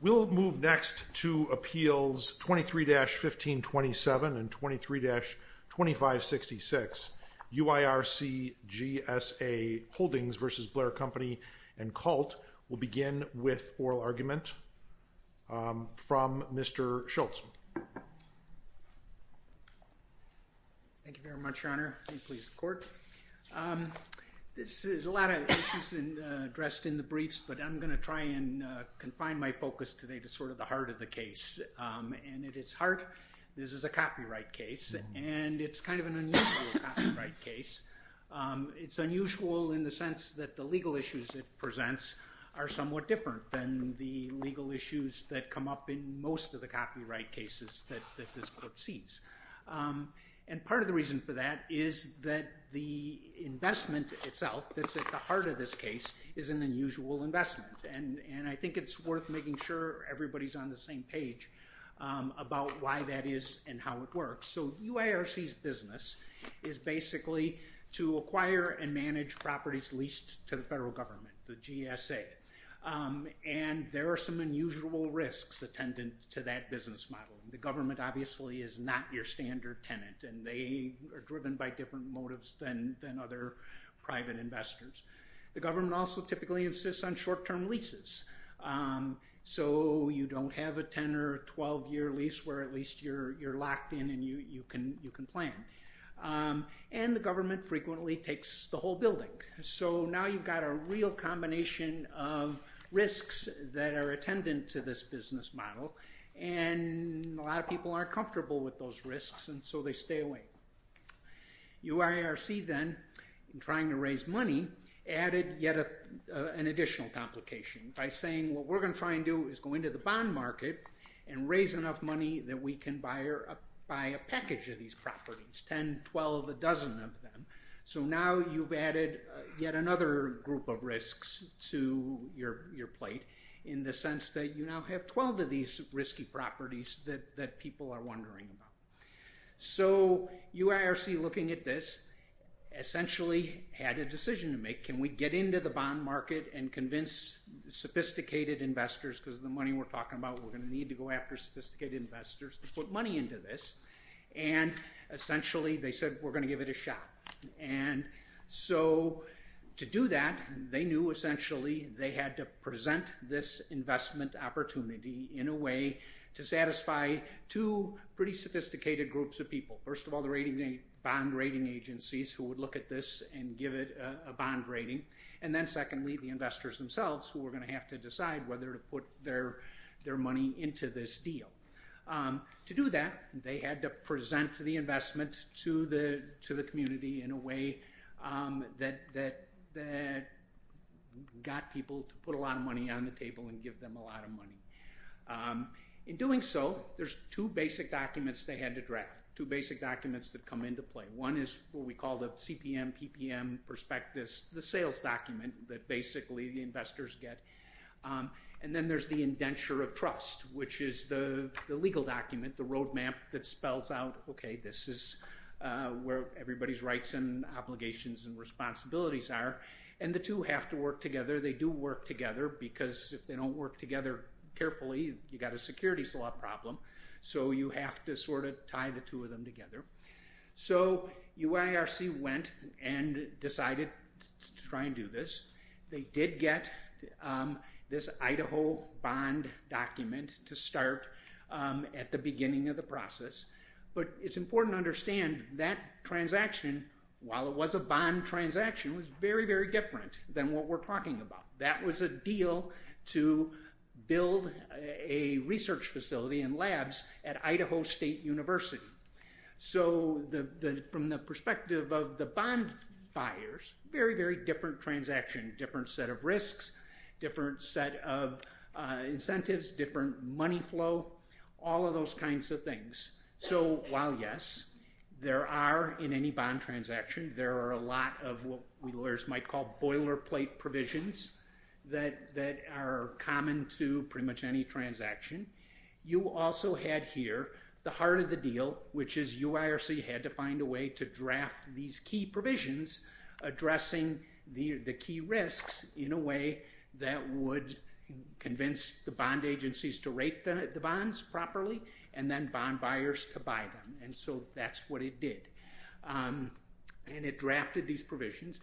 We'll move next to Appeals 23-1527 and 23-2566. UIRC-GSA Holdings v. Blair & Company and Colt will begin with oral argument from Mr. Schultz. Thank you very much, Your Honor. This is a lot of issues addressed in the briefs, but I'm going to try and confine my focus today to sort of the heart of the case. And at its heart, this is a copyright case, and it's kind of an unusual copyright case. It's unusual in the sense that the legal issues it presents are somewhat different than the legal issues that come up in most of the copyright cases that this court sees. And part of the reason for that is that the investment itself that's at the heart of this case is an unusual investment. And I think it's worth making sure everybody's on the same page about why that is and how it works. So UIRC's business is basically to acquire and manage properties leased to the federal government, the GSA. And there are some unusual risks attendant to that business model. The government obviously is not your standard tenant, and they are driven by different motives than other private investors. The government also typically insists on short-term leases, so you don't have a 10- or 12-year lease where at least you're locked in and you can plan. And the government frequently takes the whole building. So now you've got a real combination of risks that are attendant to this business model, and a lot of people aren't comfortable with those risks, and so they stay away. UIRC then, in trying to raise money, added yet an additional complication by saying, what we're going to try and do is go into the bond market and raise enough money that we can buy a package of these properties, 10, 12, a dozen of them. So now you've added yet another group of risks to your plate in the sense that you now have 12 of these risky properties that people are wondering about. So UIRC, looking at this, essentially had a decision to make. Can we get into the bond market and convince sophisticated investors, because the money we're talking about we're going to need to go after sophisticated investors, to put money into this? And essentially they said, we're going to give it a shot. And so to do that, they knew essentially they had to present this investment opportunity in a way to satisfy two pretty sophisticated groups of people. First of all, the bond rating agencies who would look at this and give it a bond rating. And then secondly, the investors themselves who were going to have to decide whether to put their money into this deal. To do that, they had to present the investment to the community in a way that got people to put a lot of money on the table and give them a lot of money. In doing so, there's two basic documents they had to draft, two basic documents that come into play. One is what we call the CPM-PPM prospectus, the sales document that basically the investors get. And then there's the indenture of trust, which is the legal document, the roadmap that spells out, okay, this is where everybody's rights and obligations and responsibilities are. And the two have to work together. They do work together because if they don't work together carefully, you've got a securities law problem. So you have to sort of tie the two of them together. So UIRC went and decided to try and do this. They did get this Idaho bond document to start at the beginning of the process. But it's important to understand that transaction, while it was a bond transaction, was very, very different than what we're talking about. That was a deal to build a research facility and labs at Idaho State University. So from the perspective of the bond buyers, very, very different transaction, different set of risks, different set of incentives, different money flow, all of those kinds of things. So while, yes, there are in any bond transaction, there are a lot of what we lawyers might call boilerplate provisions that are common to pretty much any transaction. You also had here the heart of the deal, which is UIRC had to find a way to draft these key provisions addressing the key risks in a way that would convince the bond agencies to rate the bonds properly and then bond buyers to buy them. And so that's what it did. And it drafted these provisions.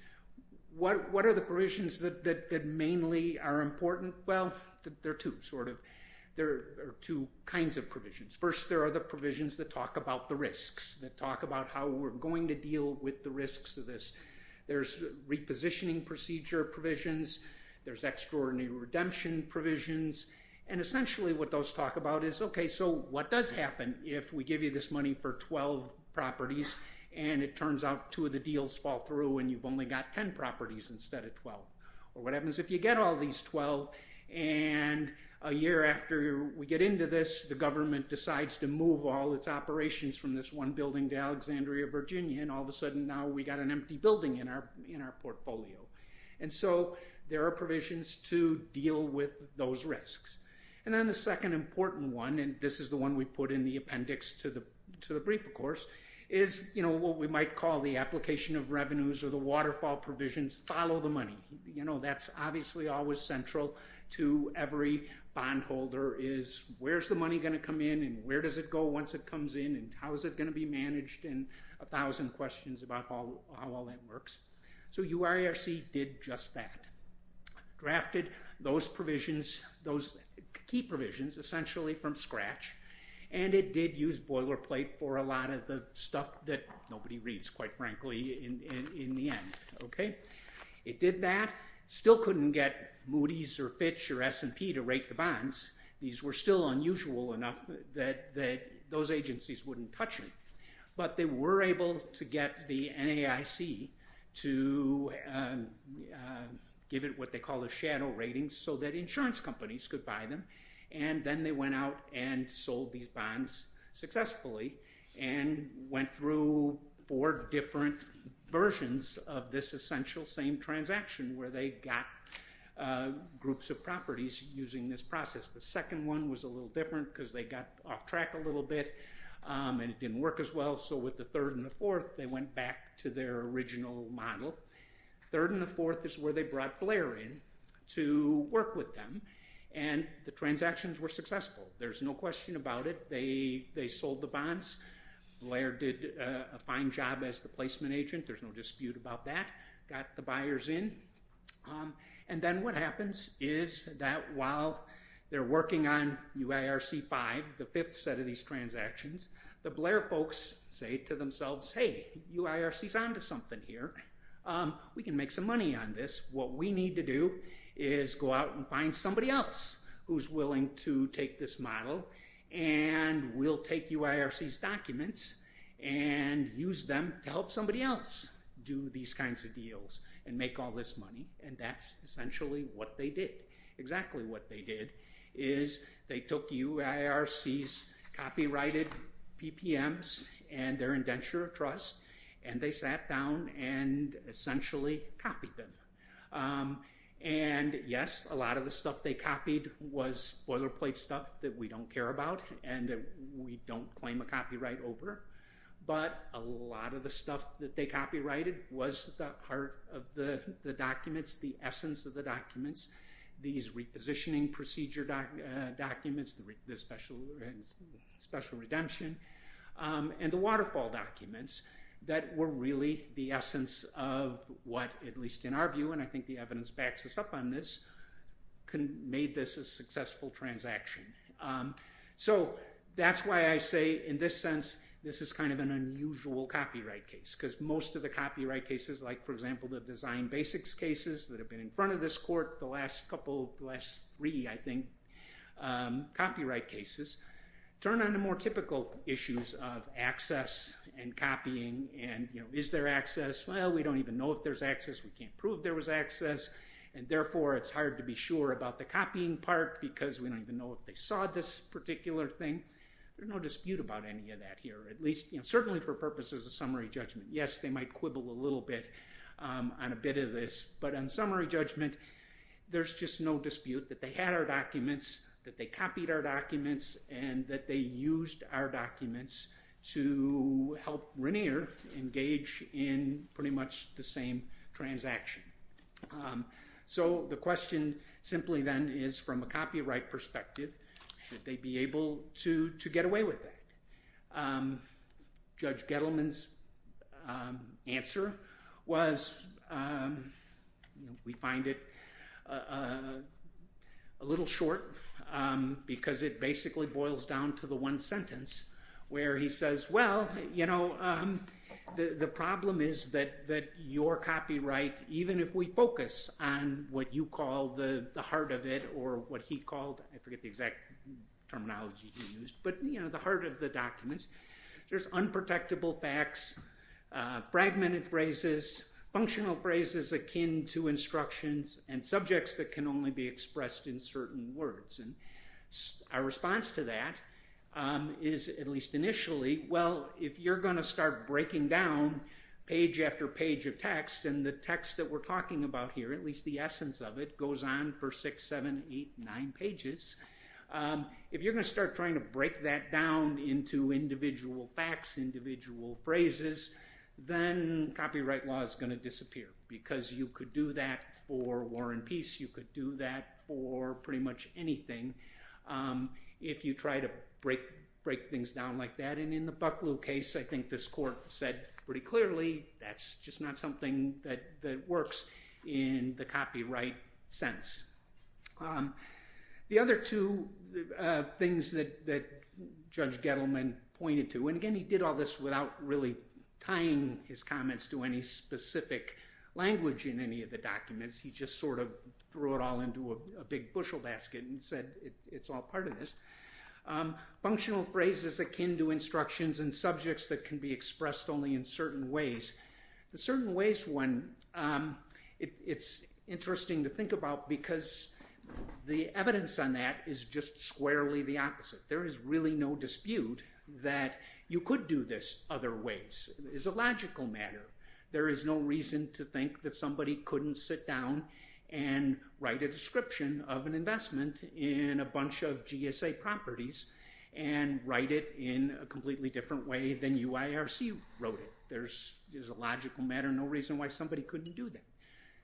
What are the provisions that mainly are important? Well, there are two, sort of. There are two kinds of provisions. First, there are the provisions that talk about the risks, that talk about how we're going to deal with the risks of this. There's repositioning procedure provisions. There's extraordinary redemption provisions. And essentially what those talk about is, okay, so what does happen if we give you this money for 12 properties and it turns out two of the deals fall through and you've only got 10 properties instead of 12? Or what happens if you get all these 12 and a year after we get into this, the government decides to move all its operations from this one building to Alexandria, Virginia, and all of a sudden now we've got an empty building in our portfolio? And so there are provisions to deal with those risks. And then the second important one, and this is the one we put in the appendix to the brief, of course, is what we might call the application of revenues or the waterfall provisions, follow the money. You know, that's obviously always central to every bondholder is where's the money going to come in and where does it go once it comes in and how is it going to be managed and a thousand questions about how all that works. So UIRC did just that. Drafted those provisions, those key provisions, essentially from scratch, and it did use boilerplate for a lot of the stuff that nobody reads, quite frankly, in the end. Okay? It did that. Still couldn't get Moody's or Fitch or S&P to rate the bonds. These were still unusual enough that those agencies wouldn't touch them. But they were able to get the NAIC to give it what they call a shadow rating so that insurance companies could buy them. And then they went out and sold these bonds successfully and went through four different versions of this essential same transaction where they got groups of properties using this process. The second one was a little different because they got off track a little bit and it didn't work as well. So with the third and the fourth, they went back to their original model. Third and the fourth is where they brought Blair in to work with them. And the transactions were successful. There's no question about it. They sold the bonds. Blair did a fine job as the placement agent. There's no dispute about that. Got the buyers in. And then what happens is that while they're working on UIRC-5, the fifth set of these transactions, the Blair folks say to themselves, hey, UIRC's on to something here. We can make some money on this. What we need to do is go out and find somebody else who's willing to take this model and we'll take UIRC's documents and use them to help somebody else do these kinds of deals and make all this money. And that's essentially what they did. Exactly what they did is they took UIRC's copyrighted PPMs and their indenture of trust and they sat down and essentially copied them. And, yes, a lot of the stuff they copied was boilerplate stuff that we don't care about and that we don't claim a copyright over. But a lot of the stuff that they copyrighted was the heart of the documents, the essence of the documents. These repositioning procedure documents, the special redemption, and the waterfall documents that were really the essence of what, at least in our view, and I think the evidence backs us up on this, made this a successful transaction. So that's why I say, in this sense, this is kind of an unusual copyright case. Because most of the copyright cases, like, for example, the Design Basics cases that have been in front of this court the last couple, the last three, I think, copyright cases, turn into more typical issues of access and copying and, you know, is there access? Well, we don't even know if there's access. We can't prove there was access. And, therefore, it's hard to be sure about the copying part because we don't even know if they saw this particular thing. There's no dispute about any of that here, at least, you know, certainly for purposes of summary judgment. Yes, they might quibble a little bit on a bit of this. But on summary judgment, there's just no dispute that they had our documents, that they copied our documents, and that they used our documents to help Rainier engage in pretty much the same transaction. So the question simply, then, is from a copyright perspective, should they be able to get away with that? Judge Gettleman's answer was, we find it a little short because it basically boils down to the one sentence where he says, well, you know, the problem is that your copyright, even if we focus on what you call the heart of it or what he called, I forget the exact terminology he used, but, you know, the heart of the documents, there's unprotectable facts, fragmented phrases, functional phrases akin to instructions, and subjects that can only be expressed in certain words. And our response to that is, at least initially, well, if you're going to start breaking down page after page of text, and the text that we're talking about here, at least the essence of it, goes on for six, seven, eight, nine pages, if you're going to start trying to break that down into individual facts, individual phrases, then copyright law is going to disappear because you could do that for war and peace, you could do that for pretty much anything, if you try to break things down like that. And in the Bucklew case, I think this court said pretty clearly, that's just not something that works in the copyright sense. The other two things that Judge Gettleman pointed to, and again, he did all this without really tying his comments to any specific language in any of the documents, he just sort of threw it all into a big bushel basket and said, it's all part of this. Functional phrases akin to instructions and subjects that can be expressed only in certain ways. The certain ways one, it's interesting to think about because the evidence on that is just squarely the opposite. There is really no dispute that you could do this other ways, it's a logical matter. There is no reason to think that somebody couldn't sit down and write a description of an investment in a bunch of GSA properties and write it in a completely different way than UIRC wrote it. There's a logical matter, no reason why somebody couldn't do that.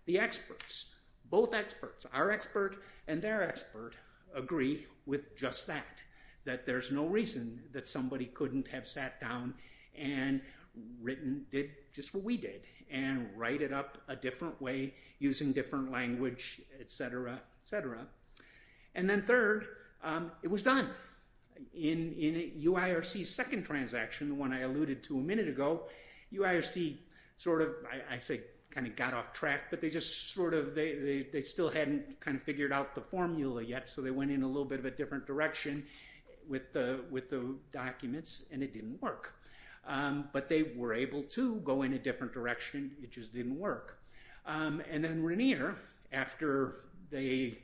The experts, both experts, our expert and their expert agree with just that, that there's no reason that somebody couldn't have sat down and written, did just what we did, and write it up a different way using different language, et cetera, et cetera. And then third, it was done. In UIRC's second transaction, the one I alluded to a minute ago, UIRC sort of, I say kind of got off track, but they just sort of, they still hadn't kind of figured out the formula yet, so they went in a little bit of a different direction with the documents, and it didn't work. But they were able to go in a different direction, it just didn't work. And then Rainier, after they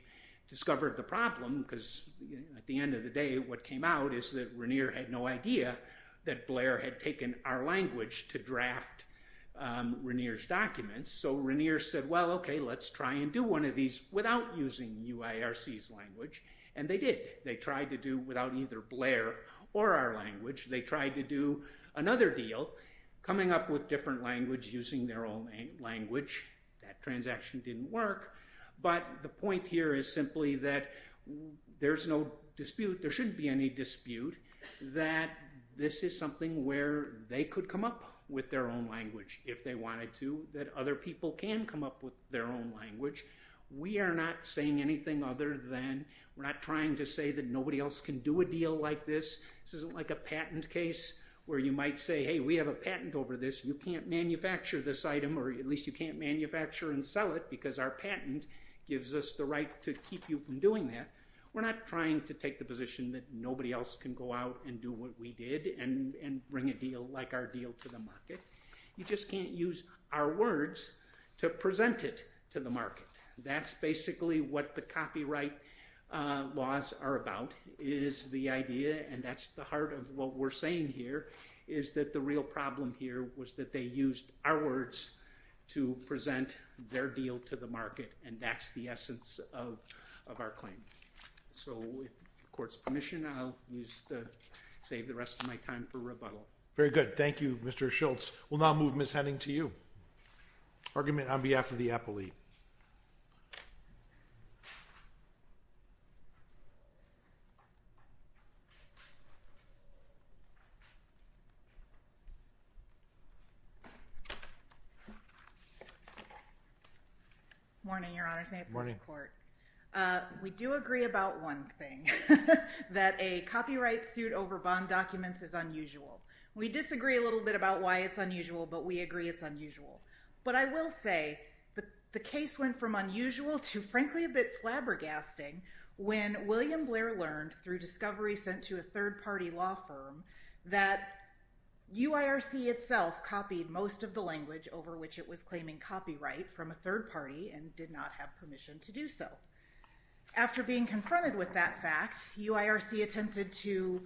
discovered the problem, because at the end of the day, what came out is that Rainier had no idea that Blair had taken our language to draft Rainier's documents. So Rainier said, well, okay, let's try and do one of these without using UIRC's language, and they did. They tried to do without either Blair or our language. They tried to do another deal, coming up with different language using their own language. That transaction didn't work, but the point here is simply that there's no dispute, there shouldn't be any dispute that this is something where they could come up with their own language if they wanted to, that other people can come up with their own language. We are not saying anything other than, we're not trying to say that nobody else can do a deal like this. This isn't like a patent case where you might say, hey, we have a patent over this, you can't manufacture this item, or at least you can't manufacture and sell it, because our patent gives us the right to keep you from doing that. We're not trying to take the position that nobody else can go out and do what we did and bring a deal like our deal to the market. You just can't use our words to present it to the market. That's basically what the copyright laws are about, is the idea, and that's the heart of what we're saying here, is that the real problem here was that they used our words to present their deal to the market, and that's the essence of our claim. So with the court's permission, I'll save the rest of my time for rebuttal. Very good. Thank you, Mr. Schultz. We'll now move, Ms. Henning, to you. Argument on behalf of the appellee. Morning, Your Honor's name. Morning. We do agree about one thing, that a copyright suit over bond documents is unusual. We disagree a little bit about why it's unusual, but we agree it's unusual. But I will say the case went from unusual to frankly a bit flabbergasting when William Blair learned through discovery sent to a third-party law firm that UIRC itself copied most of the language over which it was claiming copyright from a third party and did not have permission to do so. After being confronted with that fact, UIRC attempted to,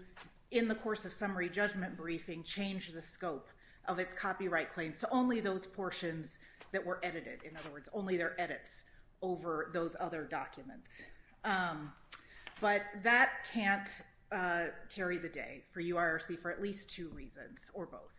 in the course of summary judgment briefing, change the scope of its copyright claims to only those portions that were edited, in other words, only their edits over those other documents. But that can't carry the day for UIRC for at least two reasons, or both.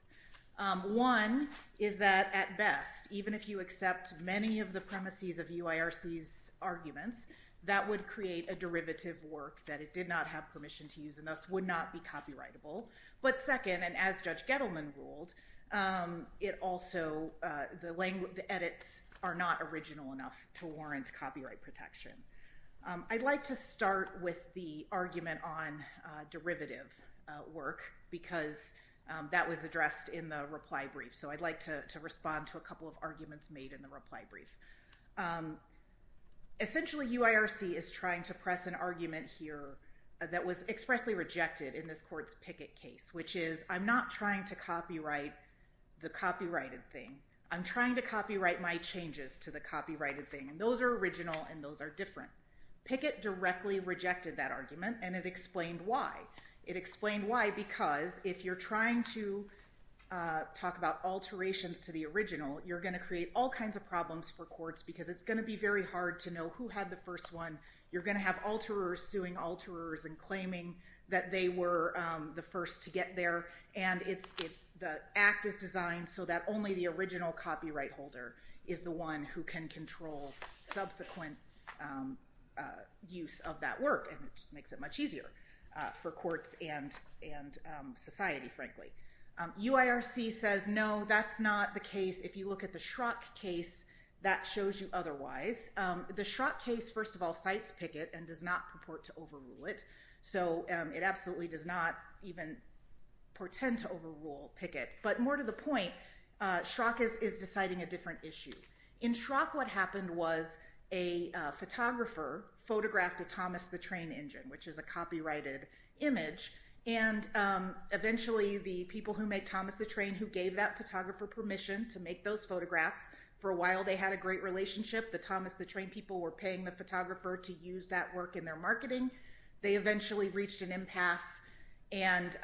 One is that at best, even if you accept many of the premises of UIRC's arguments, that would create a derivative work that it did not have permission to use and thus would not be copyrightable. But second, and as Judge Gettleman ruled, the edits are not original enough to warrant copyright protection. I'd like to start with the argument on derivative work because that was addressed in the reply brief, so I'd like to respond to a couple of arguments made in the reply brief. Essentially, UIRC is trying to press an argument here that was expressly rejected in this court's Pickett case, which is, I'm not trying to copyright the copyrighted thing. I'm trying to copyright my changes to the copyrighted thing, and those are original and those are different. Pickett directly rejected that argument, and it explained why. It explained why because if you're trying to talk about alterations to the original, you're going to create all kinds of problems for courts because it's going to be very hard to know who had the first one. You're going to have alterers suing alterers and claiming that they were the first to get there, and the act is designed so that only the original copyright holder is the one who can control subsequent use of that work, UIRC says no, that's not the case. If you look at the Schrock case, that shows you otherwise. The Schrock case, first of all, cites Pickett and does not purport to overrule it, so it absolutely does not even portend to overrule Pickett, but more to the point, Schrock is deciding a different issue. In Schrock, what happened was a photographer photographed a Thomas the Train engine, which is a copyrighted image, and eventually the people who make Thomas the Train who gave that photographer permission to make those photographs, for a while they had a great relationship. The Thomas the Train people were paying the photographer to use that work in their marketing. They eventually reached an impasse, and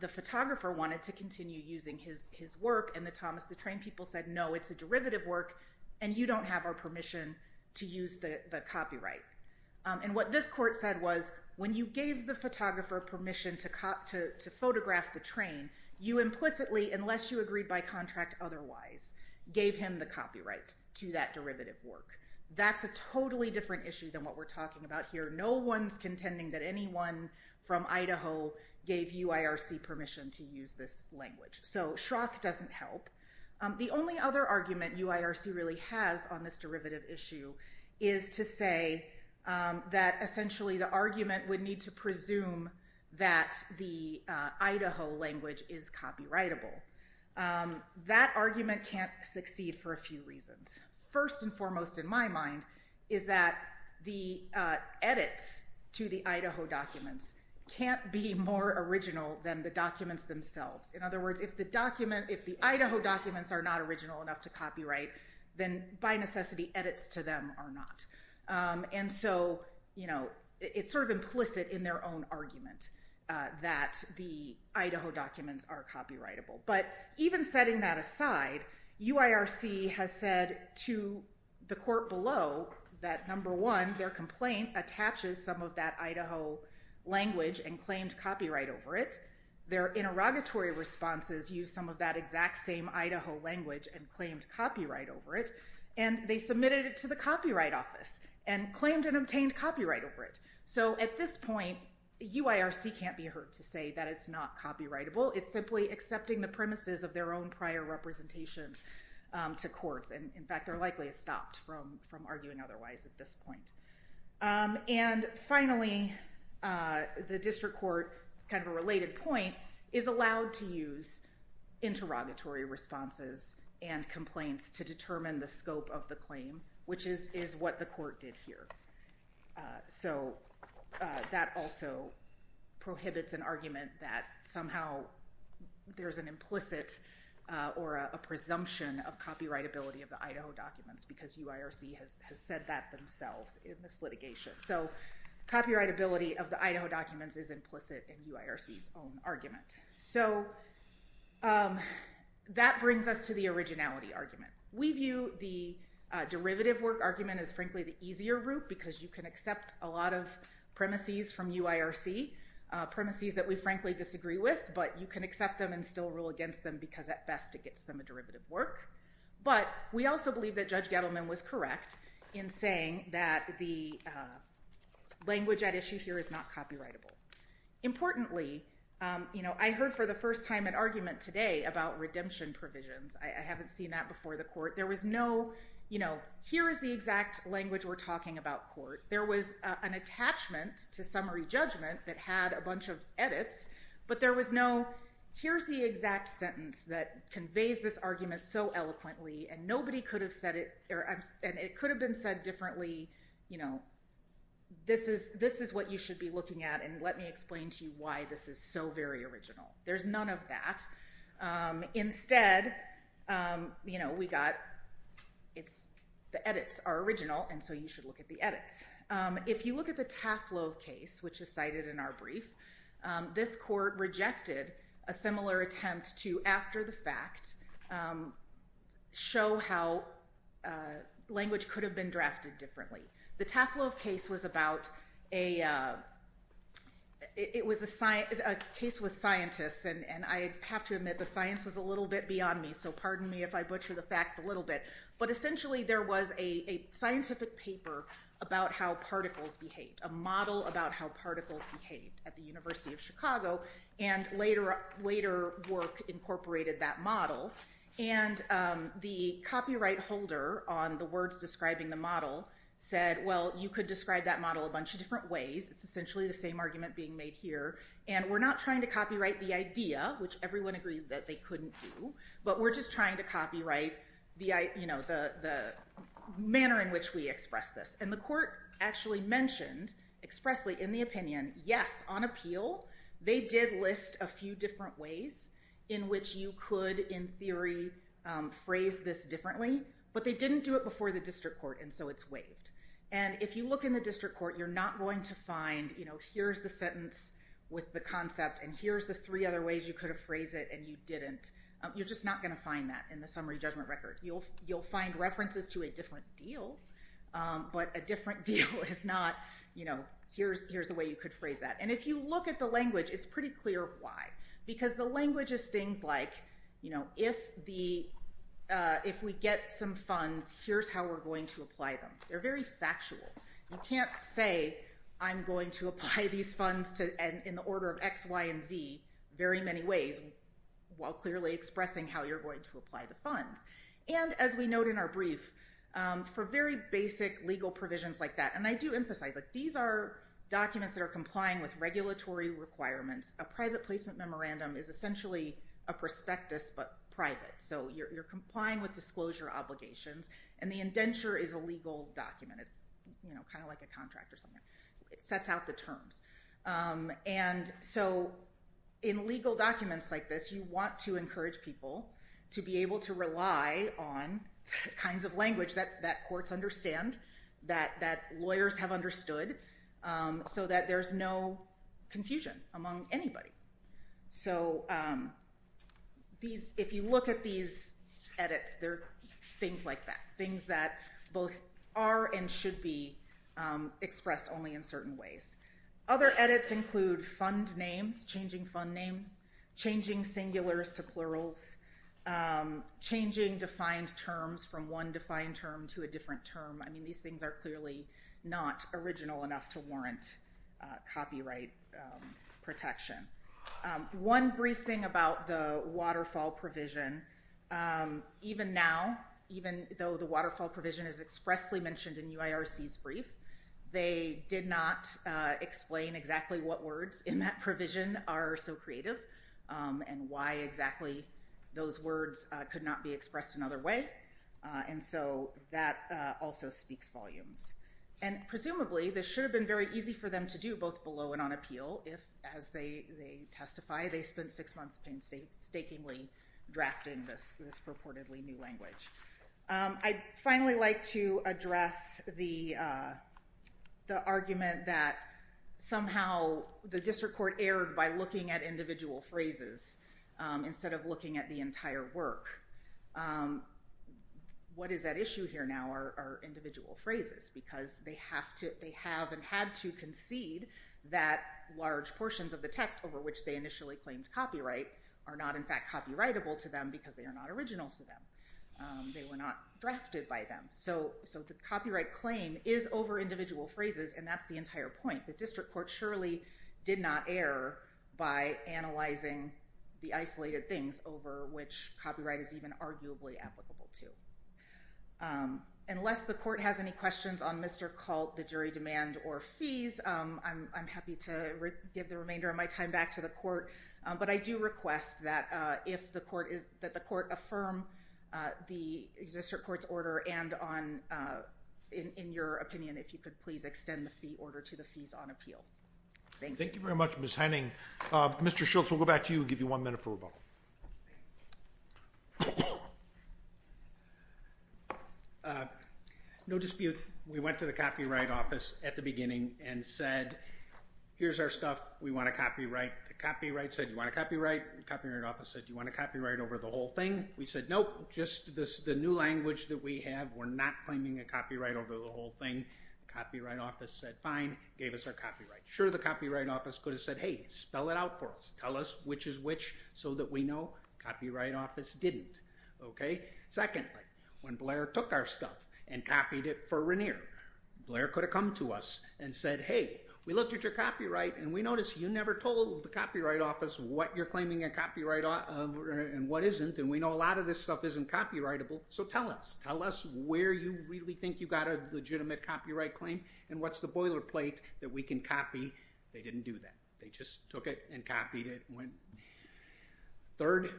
the photographer wanted to continue using his work, and the Thomas the Train people said, no, it's a derivative work, and you don't have our permission to use the copyright. And what this court said was, when you gave the photographer permission to photograph the train, you implicitly, unless you agreed by contract otherwise, gave him the copyright to that derivative work. That's a totally different issue than what we're talking about here. No one's contending that anyone from Idaho gave UIRC permission to use this language, so Schrock doesn't help. The only other argument UIRC really has on this derivative issue is to say that essentially the argument would need to presume that the Idaho language is copyrightable. That argument can't succeed for a few reasons. First and foremost in my mind is that the edits to the Idaho documents can't be more original than the documents themselves. In other words, if the Idaho documents are not original enough to copyright, then by necessity edits to them are not. And so it's sort of implicit in their own argument that the Idaho documents are copyrightable. But even setting that aside, UIRC has said to the court below that number one, their complaint attaches some of that Idaho language and claimed copyright over it. Their interrogatory responses use some of that exact same Idaho language and claimed copyright over it. And they submitted it to the Copyright Office and claimed and obtained copyright over it. So at this point, UIRC can't be heard to say that it's not copyrightable. It's simply accepting the premises of their own prior representations to courts. In fact, they're likely stopped from arguing otherwise at this point. And finally, the district court, it's kind of a related point, is allowed to use interrogatory responses and complaints to determine the scope of the claim, which is what the court did here. So that also prohibits an argument that somehow there's an implicit or a presumption of copyrightability of the Idaho documents because UIRC has said that themselves in this litigation. So copyrightability of the Idaho documents is implicit in UIRC's own argument. So that brings us to the originality argument. We view the derivative work argument as frankly the easier route because you can accept a lot of premises from UIRC, premises that we frankly disagree with, but you can accept them and still rule against them because at best it gets them a derivative work. But we also believe that Judge Gettleman was correct in saying that the language at issue here is not copyrightable. Importantly, I heard for the first time an argument today about redemption provisions. I haven't seen that before the court. There was no, here is the exact language we're talking about, court. But there was no, here's the exact sentence that conveys this argument so eloquently and it could have been said differently, this is what you should be looking at and let me explain to you why this is so very original. There's none of that. Instead, we got the edits are original and so you should look at the edits. Next, if you look at the Taflo case, which is cited in our brief, this court rejected a similar attempt to, after the fact, show how language could have been drafted differently. The Taflo case was about a, it was a case with scientists and I have to admit the science was a little bit beyond me, so pardon me if I butcher the facts a little bit, but essentially there was a scientific paper about how particles behave, a model about how particles behave at the University of Chicago and later work incorporated that model and the copyright holder on the words describing the model said, well, you could describe that model a bunch of different ways. It's essentially the same argument being made here and we're not trying to copyright the idea, which everyone agreed that they couldn't do, but we're just trying to copyright the manner in which we express this and the court actually mentioned expressly in the opinion, yes, on appeal, they did list a few different ways in which you could, in theory, phrase this differently, but they didn't do it before the district court and so it's waived and if you look in the district court, you're not going to find, here's the sentence with the concept and here's the three other ways you could have phrased it and you didn't. You're just not going to find that in the summary judgment record. You'll find references to a different deal, but a different deal is not, here's the way you could phrase that and if you look at the language, it's pretty clear why because the language is things like if we get some funds, here's how we're going to apply them. They're very factual. You can't say I'm going to apply these funds in the order of X, Y, and Z very many ways while clearly expressing how you're going to apply the funds and as we note in our brief, for very basic legal provisions like that, and I do emphasize that these are documents that are complying with regulatory requirements. A private placement memorandum is essentially a prospectus, but private, so you're complying with disclosure obligations and the indenture is a legal document. It's kind of like a contract or something. It sets out the terms and so in legal documents like this, you want to encourage people to be able to rely on the kinds of language that courts understand, that lawyers have understood, so that there's no confusion among anybody. So if you look at these edits, they're things like that, they're things that both are and should be expressed only in certain ways. Other edits include fund names, changing fund names, changing singulars to plurals, changing defined terms from one defined term to a different term. I mean these things are clearly not original enough to warrant copyright protection. One brief thing about the waterfall provision, even now, even though the waterfall provision is expressly mentioned in UIRC's brief, they did not explain exactly what words in that provision are so creative and why exactly those words could not be expressed another way, and so that also speaks volumes. And presumably this should have been very easy for them to do, both below and on appeal, if, as they testify, they spent six months painstakingly drafting this purportedly new language. I'd finally like to address the argument that somehow the district court erred by looking at individual phrases instead of looking at the entire work. What is at issue here now are individual phrases, because they have and had to concede that large portions of the text over which they initially claimed copyright are not in fact copyrightable to them because they are not original to them. They were not drafted by them. So the copyright claim is over individual phrases, and that's the entire point. The district court surely did not err by analyzing the isolated things over which copyright is even arguably applicable to. Unless the court has any questions on Mr. Colt, the jury demand, or fees, I'm happy to give the remainder of my time back to the court, but I do request that the court affirm the district court's order and in your opinion if you could please extend the order to the fees on appeal. Thank you. Thank you very much, Ms. Henning. Mr. Schultz, we'll go back to you and give you one minute for rebuttal. No dispute. We went to the copyright office at the beginning and said, here's our stuff, we want a copyright. The copyright said, do you want a copyright? The copyright office said, do you want a copyright over the whole thing? We said, nope, just the new language that we have, we're not claiming a copyright over the whole thing. The copyright office said, fine, gave us our copyright. Sure, the copyright office could have said, hey, spell it out for us. Tell us which is which so that we know. The copyright office didn't. Secondly, when Blair took our stuff and copied it for Regnier, Blair could have come to us and said, hey, we looked at your copyright and we noticed you never told the copyright office what you're claiming a copyright and what isn't and we know a lot of this stuff isn't copyrightable, so tell us. Tell us where you really think you got a legitimate copyright claim and what's the boilerplate that we can copy. They didn't do that. They just took it and copied it. Third,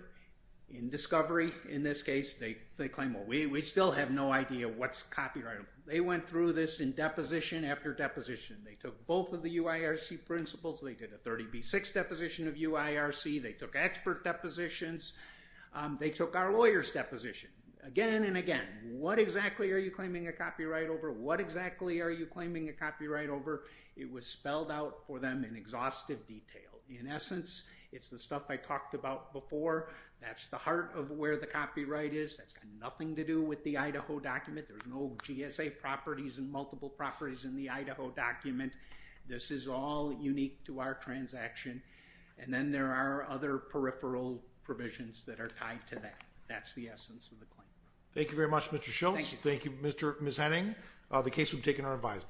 in Discovery, in this case, they claim, well, we still have no idea what's copyrightable. They went through this in deposition after deposition. They took both of the UIRC principles. They did a 30B6 deposition of UIRC. They took expert depositions. They took our lawyer's deposition. Again and again, what exactly are you claiming a copyright over? What exactly are you claiming a copyright over? It was spelled out for them in exhaustive detail. In essence, it's the stuff I talked about before. That's the heart of where the copyright is. That's got nothing to do with the Idaho document. There's no GSA properties and multiple properties in the Idaho document. This is all unique to our transaction. And then there are other peripheral provisions that are tied to that. That's the essence of the claim. Thank you very much, Mr. Schultz. Thank you, Ms. Henning. The case will be taken under advisement. Thank you.